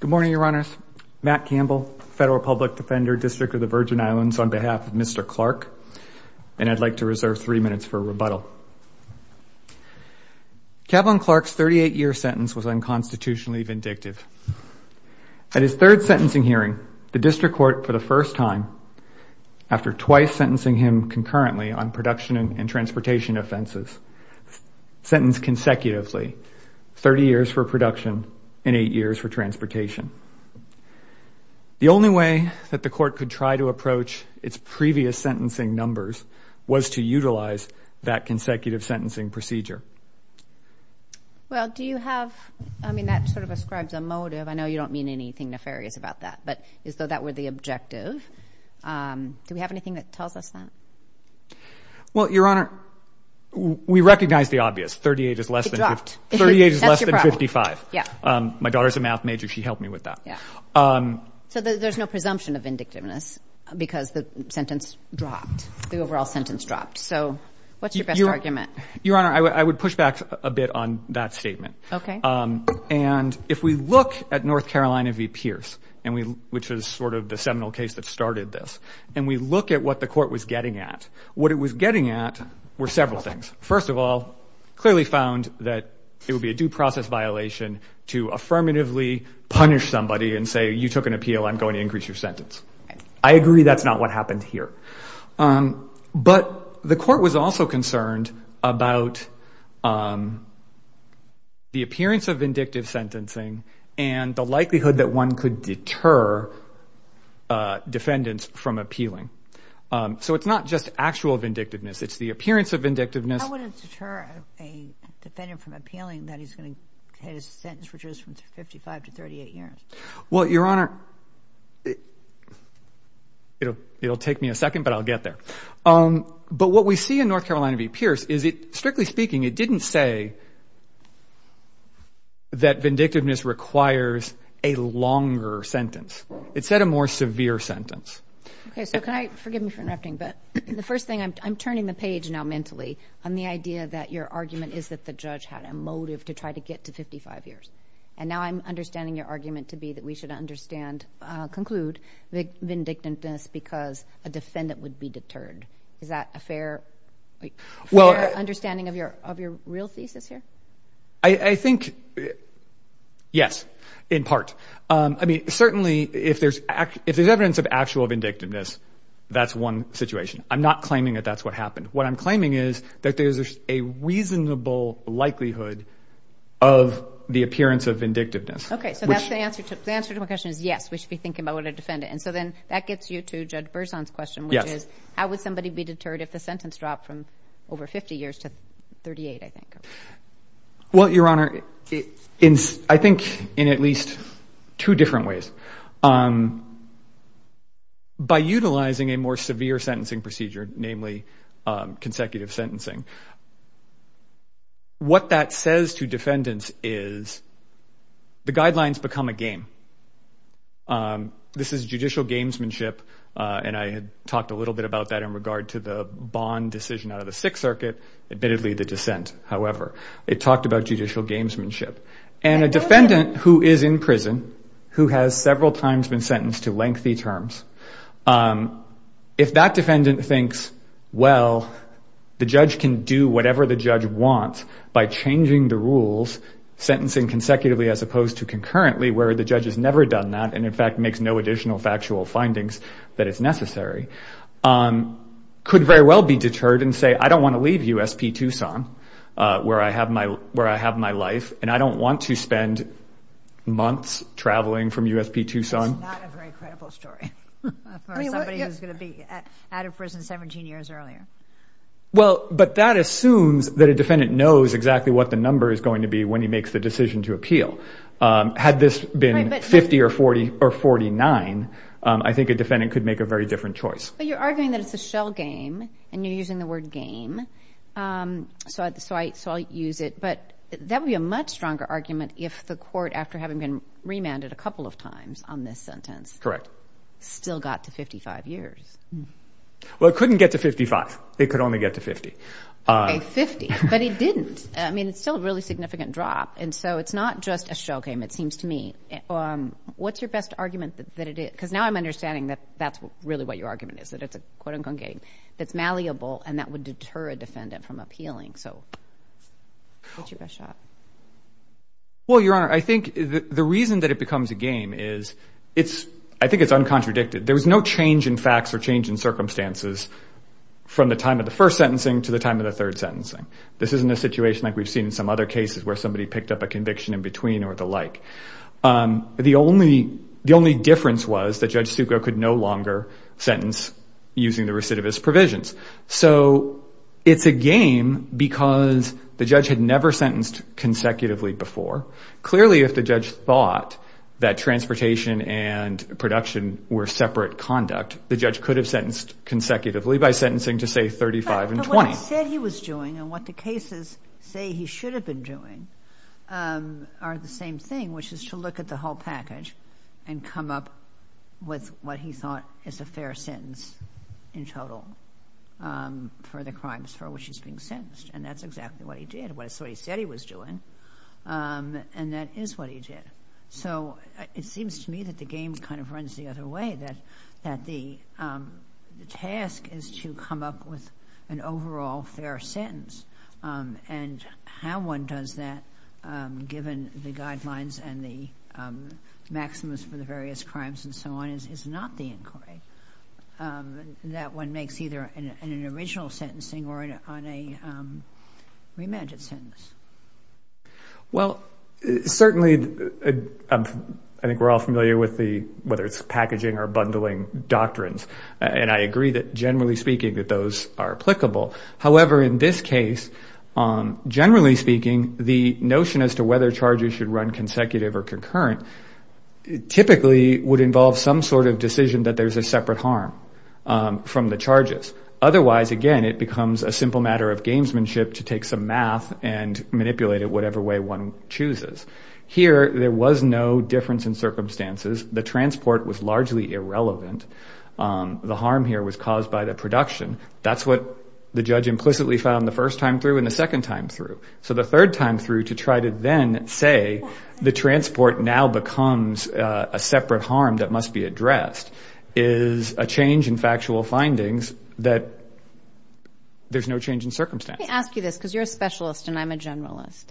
Good morning, Your Honors. Matt Campbell, Federal Public Defender, District of the Virgin Islands, on behalf of Mr. Clark, and I'd like to reserve three minutes for rebuttal. Cavon Clark's 38-year sentence was unconstitutionally vindictive. At his third sentencing hearing, the District Court, for the first time, after twice sentencing him concurrently on production and transportation offenses, sentenced consecutively 30 years for production and eight years for transportation. The only way that the Court could try to approach its previous sentencing numbers was to utilize that consecutive sentencing procedure. Well, do you have, I mean, that sort of ascribes a motive. I know you don't mean anything nefarious about that, but as though that were the objective. Do we have anything that tells us that? Well, Your Honor, we recognize the obvious. 38 is less than 55. My daughter's a math major. She helped me with that. So there's no presumption of vindictiveness because the sentence dropped, the overall sentence dropped. So what's your best argument? Your Honor, I would push back a bit on that statement. Okay. And if we look at North Carolina v. Pierce, which was sort of the seminal case that started this, and we look at what the Court was getting at, what it was getting at were several things. First of all, clearly found that it would be a due process violation to affirmatively punish somebody and say, you took an appeal, I'm going to increase your sentence. I agree that's not what happened here. But the Court was also concerned about the appearance of vindictive sentencing and the likelihood that one could deter defendants from appealing. So it's not just actual vindictiveness. It's the appearance of vindictiveness. How would it deter a defendant from appealing that he's going to get his sentence reduced from 55 to 38 years? Well, Your Honor, it'll take me a second, but I'll get there. But what we see in North Carolina v. Pierce is it, strictly speaking, it didn't say that vindictiveness requires a longer sentence. It said a more severe sentence. Okay. So can I, forgive me for interrupting, but the first thing, I'm turning the page now mentally on the idea that your argument is that the judge had a motive to try to get to 55 years. And now I'm understanding your argument to be that we should conclude vindictiveness because a defendant would be deterred. Is that a fair understanding of your real thesis here? I think, yes, in part. I mean, certainly if there's evidence of actual vindictiveness, that's one situation. I'm not claiming that that's what happened. What I'm claiming is that there's a reasonable likelihood of the appearance of vindictiveness. Okay. So that's the answer to my question is yes, we should be thinking about what a defendant. And so then that gets you to Judge Berzon's question, which is how would somebody be deterred if the sentence dropped from over 50 years to 38, I think. Well, Your Honor, I think in at least two different ways. By utilizing a more severe sentencing procedure, namely consecutive sentencing. What that says to defendants is the guidelines become a game. This is judicial gamesmanship. And I had talked a little bit about that in regard to the bond decision out of the Sixth Circuit, admittedly the dissent, however. It talked about judicial gamesmanship. And a defendant who is in prison, who has several times been sentenced to lengthy terms, if that defendant thinks, well, the judge can do whatever the judge wants by changing the rules, sentencing consecutively as opposed to concurrently where the judge has never done that and, in fact, makes no additional factual findings that is necessary, could very well be deterred and say, I don't want to leave USP Tucson where I have my life and I don't want to spend months traveling from USP Tucson. That's not a very credible story for somebody who is going to be out of prison 17 years earlier. Well, but that assumes that a defendant knows exactly what the number is going to be when he makes the decision to appeal. Had this been 50 or 40 or 49, I think a defendant could make a very different choice. But you're arguing that it's a shell game and you're using the word game. So I saw you use it. But that would be a much stronger argument if the court, after having been remanded a couple of times on this sentence. Correct. Still got to 55 years. Well, it couldn't get to 55. It could only get to 50. 50. But it didn't. I mean, it's still a really significant drop. And so it's not just a shell game, it seems to me. What's your best argument that it is? Because now I'm understanding that that's really what your argument is, that it's a quote-unquote game that's malleable and that would deter a defendant from appealing. So what's your best shot? Well, Your Honor, I think the reason that it becomes a game is it's I think it's uncontradicted. There was no change in facts or change in circumstances from the time of the first sentencing to the time of the third sentencing. This isn't a situation like we've seen in some other cases where somebody picked up a conviction in between or the like. The only difference was that Judge Succo could no longer sentence using the recidivist provisions. So it's a game because the judge had never sentenced consecutively before. Clearly, if the judge thought that transportation and production were separate conduct, the judge could have sentenced consecutively by sentencing to, say, 35 and 20. What he said he was doing and what the cases say he should have been doing are the same thing, which is to look at the whole package and come up with what he thought is a fair sentence in total for the crimes for which he's being sentenced. And that's exactly what he did. That's what he said he was doing, and that is what he did. So it seems to me that the game kind of runs the other way, that the task is to come up with an overall fair sentence. And how one does that, given the guidelines and the maximus for the various crimes and so on, is not the inquiry. That one makes either an original sentencing or on a remanded sentence. Well, certainly, I think we're all familiar with the, whether it's packaging or bundling doctrines, and I agree that, generally speaking, that those are applicable. However, in this case, generally speaking, the notion as to whether charges should run consecutive or concurrent typically would involve some sort of decision that there's a separate harm from the charges. Otherwise, again, it becomes a simple matter of gamesmanship to take some math and manipulate it whatever way one chooses. Here, there was no difference in circumstances. The transport was largely irrelevant. The harm here was caused by the production. That's what the judge implicitly found the first time through and the second time through. So the third time through to try to then say the transport now becomes a separate harm that must be addressed is a change in factual findings that there's no change in circumstance. Let me ask you this because you're a specialist and I'm a generalist.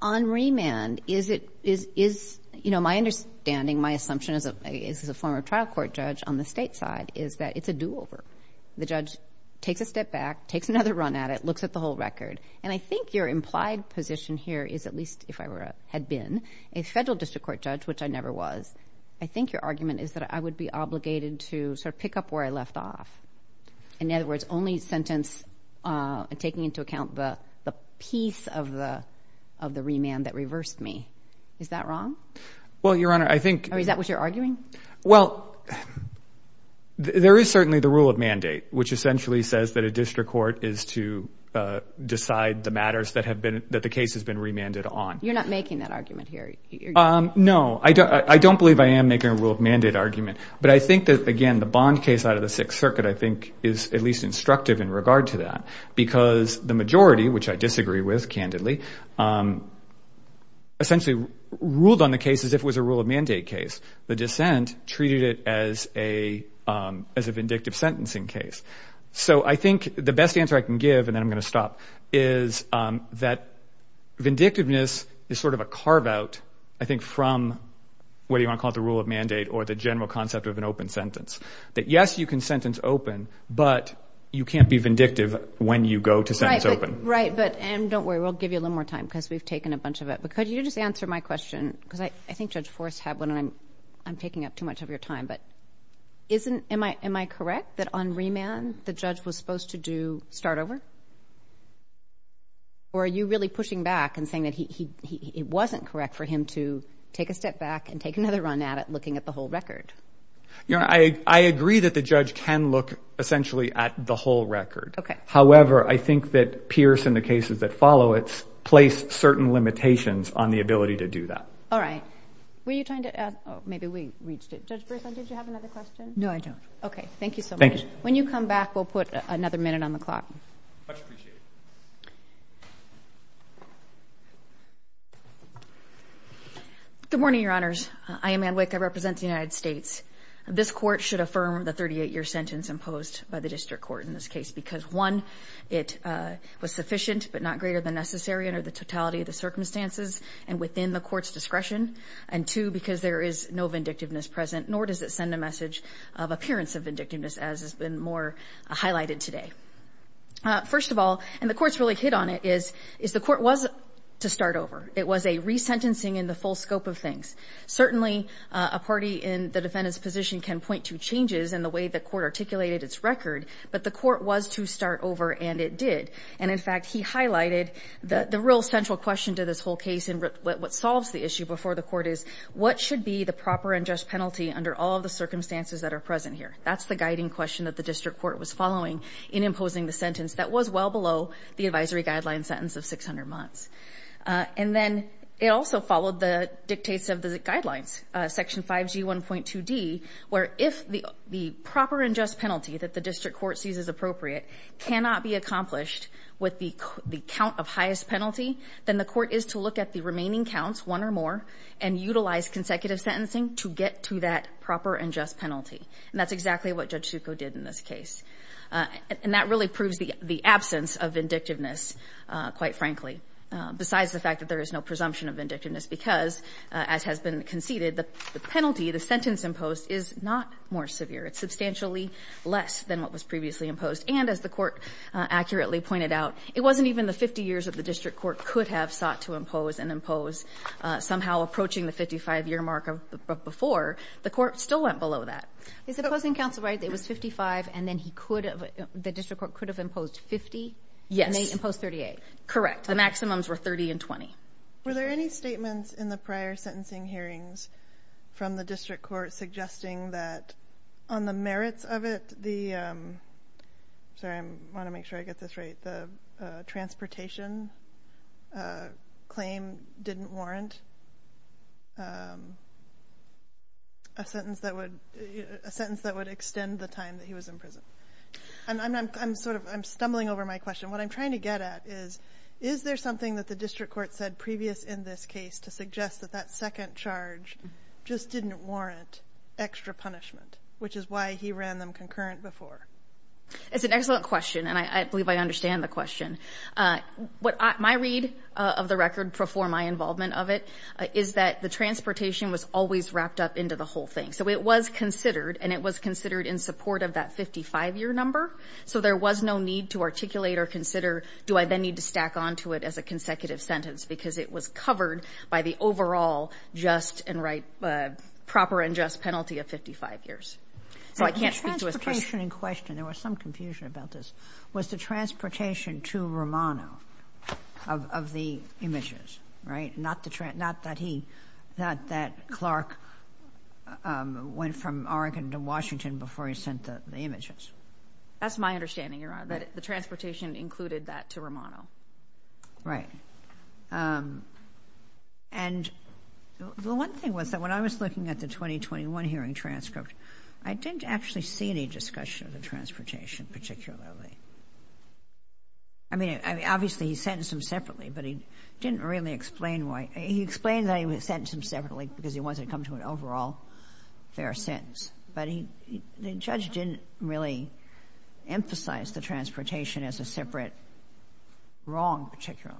On remand, is it, you know, my understanding, my assumption as a former trial court judge on the state side is that it's a do-over. The judge takes a step back, takes another run at it, looks at the whole record. And I think your implied position here is at least if I had been a federal district court judge, which I never was, I think your argument is that I would be obligated to sort of pick up where I left off. In other words, only sentence taking into account the piece of the remand that reversed me. Is that wrong? Well, Your Honor, I think— Or is that what you're arguing? Well, there is certainly the rule of mandate, which essentially says that a district court is to decide the matters that the case has been remanded on. You're not making that argument here. No, I don't believe I am making a rule of mandate argument. But I think that, again, the Bond case out of the Sixth Circuit, I think, is at least instructive in regard to that because the majority, which I disagree with candidly, essentially ruled on the case as if it was a rule of mandate case. The dissent treated it as a vindictive sentencing case. So I think the best answer I can give, and then I'm going to stop, is that vindictiveness is sort of a carve-out, I think, from what you want to call the rule of mandate or the general concept of an open sentence. That, yes, you can sentence open, but you can't be vindictive when you go to sentence open. Right, but—and don't worry, we'll give you a little more time because we've taken a bunch of it. But could you just answer my question? Because I think Judge Forrest had one, and I'm taking up too much of your time. But isn't—am I correct that on remand the judge was supposed to do start over? Or are you really pushing back and saying that it wasn't correct for him to take a step back and take another run at it looking at the whole record? I agree that the judge can look essentially at the whole record. Okay. However, I think that Pierce and the cases that follow it place certain limitations on the ability to do that. All right. Were you trying to add—oh, maybe we reached it. Judge Brisson, did you have another question? No, I don't. Okay. Thank you so much. Thank you. When you come back, we'll put another minute on the clock. Much appreciated. Good morning, Your Honors. I am Ann Wick. I represent the United States. This court should affirm the 38-year sentence imposed by the district court in this case because, one, it was sufficient but not greater than necessary under the totality of the circumstances and within the court's discretion, and, two, because there is no vindictiveness present, nor does it send a message of appearance of vindictiveness as has been more highlighted today. First of all, and the court's really hit on it, is the court was to start over. Certainly, a party in the defendant's position can point to changes in the way the court articulated its record, but the court was to start over, and it did. And, in fact, he highlighted the real central question to this whole case and what solves the issue before the court is what should be the proper and just penalty under all of the circumstances that are present here. That's the guiding question that the district court was following in imposing the sentence that was well below the advisory guideline sentence of 600 months. And then it also followed the dictates of the guidelines, Section 5G1.2d, where if the proper and just penalty that the district court sees as appropriate cannot be accomplished with the count of highest penalty, then the court is to look at the remaining counts, one or more, and utilize consecutive sentencing to get to that proper and just penalty. And that's exactly what Judge Succo did in this case. And that really proves the absence of vindictiveness, quite frankly, besides the fact that there is no presumption of vindictiveness because, as has been conceded, the penalty, the sentence imposed, is not more severe. It's substantially less than what was previously imposed. And, as the court accurately pointed out, it wasn't even the 50 years that the district court could have sought to impose and impose somehow approaching the 55-year mark of before. The court still went below that. Is the opposing counsel right that it was 55 and then he could have— the district court could have imposed 50? Yes. And they imposed 38? Correct. The maximums were 30 and 20. Were there any statements in the prior sentencing hearings from the district court suggesting that on the merits of it, the—sorry, I want to make sure I get this right— a sentence that would extend the time that he was in prison? I'm sort of—I'm stumbling over my question. What I'm trying to get at is, is there something that the district court said previous in this case to suggest that that second charge just didn't warrant extra punishment, which is why he ran them concurrent before? It's an excellent question, and I believe I understand the question. My read of the record before my involvement of it is that the transportation was always wrapped up into the whole thing. So it was considered, and it was considered in support of that 55-year number. So there was no need to articulate or consider, do I then need to stack onto it as a consecutive sentence, because it was covered by the overall just and right—proper and just penalty of 55 years. So I can't speak to a— The transportation in question—there was some confusion about this— was the transportation to Romano of the images, right? Not that he—not that Clark went from Oregon to Washington before he sent the images. That's my understanding, Your Honor, that the transportation included that to Romano. Right. And the one thing was that when I was looking at the 2021 hearing transcript, I didn't actually see any discussion of the transportation particularly. I mean, obviously he sentenced them separately, but he didn't really explain why—he explained that he sentenced them separately because he wanted to come to an overall fair sentence. But the judge didn't really emphasize the transportation as a separate wrong particularly.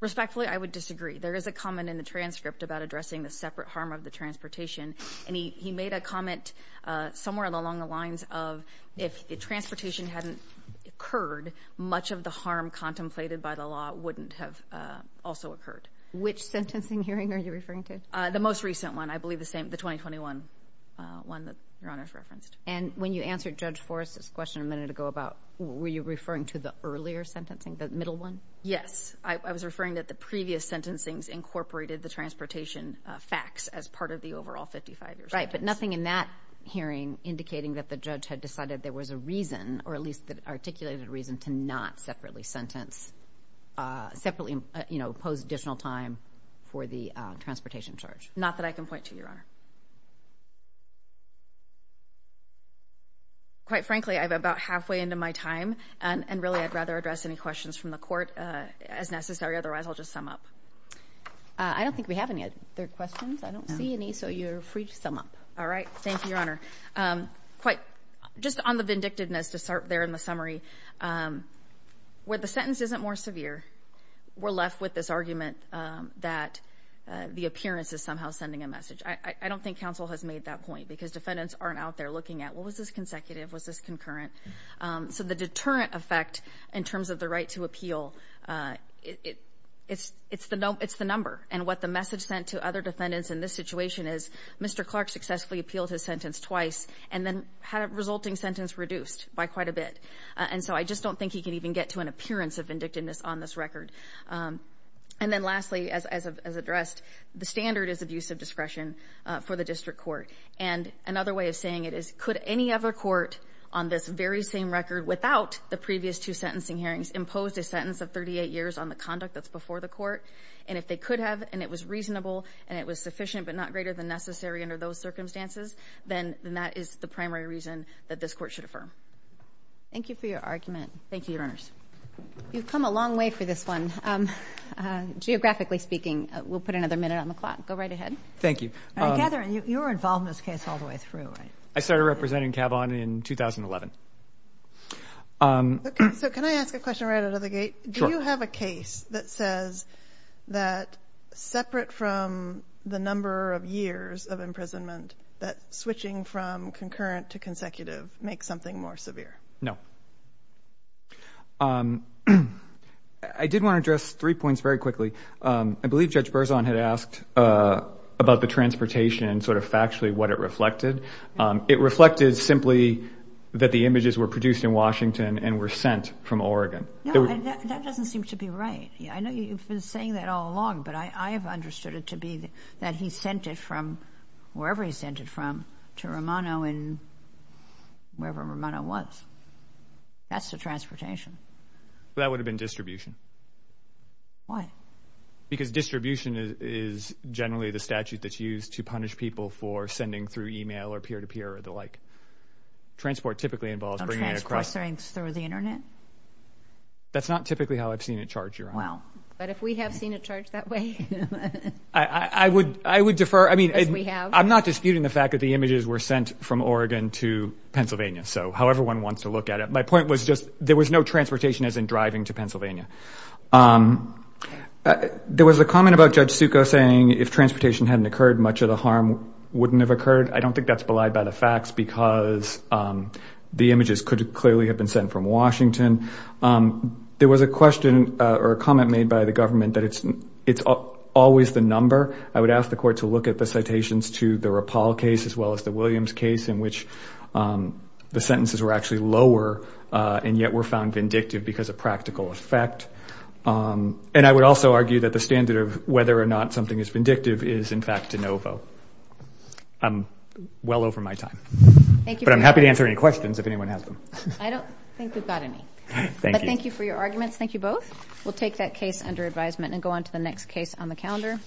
Respectfully, I would disagree. There is a comment in the transcript about addressing the separate harm of the transportation, and he made a comment somewhere along the lines of that if the transportation hadn't occurred, much of the harm contemplated by the law wouldn't have also occurred. Which sentencing hearing are you referring to? The most recent one. I believe the same—the 2021 one that Your Honor's referenced. And when you answered Judge Forrest's question a minute ago about— were you referring to the earlier sentencing, the middle one? Yes. I was referring that the previous sentencings incorporated the transportation facts as part of the overall 55-year sentence. Right, but nothing in that hearing indicating that the judge had decided there was a reason, or at least articulated a reason to not separately sentence— separately impose additional time for the transportation charge. Not that I can point to, Your Honor. Quite frankly, I'm about halfway into my time, and really I'd rather address any questions from the court as necessary. Otherwise, I'll just sum up. I don't think we have any other questions. I don't see any, so you're free to sum up. All right. Thank you, Your Honor. Just on the vindictiveness to start there in the summary, where the sentence isn't more severe, we're left with this argument that the appearance is somehow sending a message. I don't think counsel has made that point because defendants aren't out there looking at, well, was this consecutive? Was this concurrent? So the deterrent effect in terms of the right to appeal, it's the number. And what the message sent to other defendants in this situation is, Mr. Clark successfully appealed his sentence twice and then had a resulting sentence reduced by quite a bit. And so I just don't think he can even get to an appearance of vindictiveness on this record. And then lastly, as addressed, the standard is abuse of discretion for the district court. And another way of saying it is, could any other court on this very same record without the previous two sentencing hearings impose a sentence of 38 years on the conduct that's before the court? And if they could have and it was reasonable and it was sufficient but not greater than necessary under those circumstances, then that is the primary reason that this court should affirm. Thank you for your argument. Thank you, Your Honors. You've come a long way for this one. Geographically speaking, we'll put another minute on the clock. Go right ahead. Thank you. You were involved in this case all the way through, right? I started representing Kavon in 2011. Okay, so can I ask a question right out of the gate? Sure. Do you have a case that says that separate from the number of years of imprisonment, that switching from concurrent to consecutive makes something more severe? No. I did want to address three points very quickly. I believe Judge Berzon had asked about the transportation and sort of factually what it reflected. It reflected simply that the images were produced in Washington and were sent from Oregon. No, that doesn't seem to be right. I know you've been saying that all along, but I have understood it to be that he sent it from wherever he sent it from to Romano and wherever Romano was. That's the transportation. That would have been distribution. Why? Because distribution is generally the statute that's used to punish people for sending through e-mail or peer-to-peer or the like. Transport typically involves bringing it across. That's not typically how I've seen it charged, Your Honor. But if we have seen it charged that way? I would defer. I'm not disputing the fact that the images were sent from Oregon to Pennsylvania, so however one wants to look at it. My point was just there was no transportation as in driving to Pennsylvania. There was a comment about Judge Succo saying if transportation hadn't occurred, much of the harm wouldn't have occurred. I don't think that's belied by the facts because the images could clearly have been sent from Washington. There was a question or a comment made by the government that it's always the number. I would ask the Court to look at the citations to the Rapal case as well as the Williams case in which the sentences were actually lower and yet were found vindictive because of practical effect. And I would also argue that the standard of whether or not something is vindictive is, in fact, de novo. I'm well over my time. But I'm happy to answer any questions if anyone has them. I don't think we've got any. But thank you for your arguments. Thank you both. We'll take that case under advisement and go on to the next case on the calendar.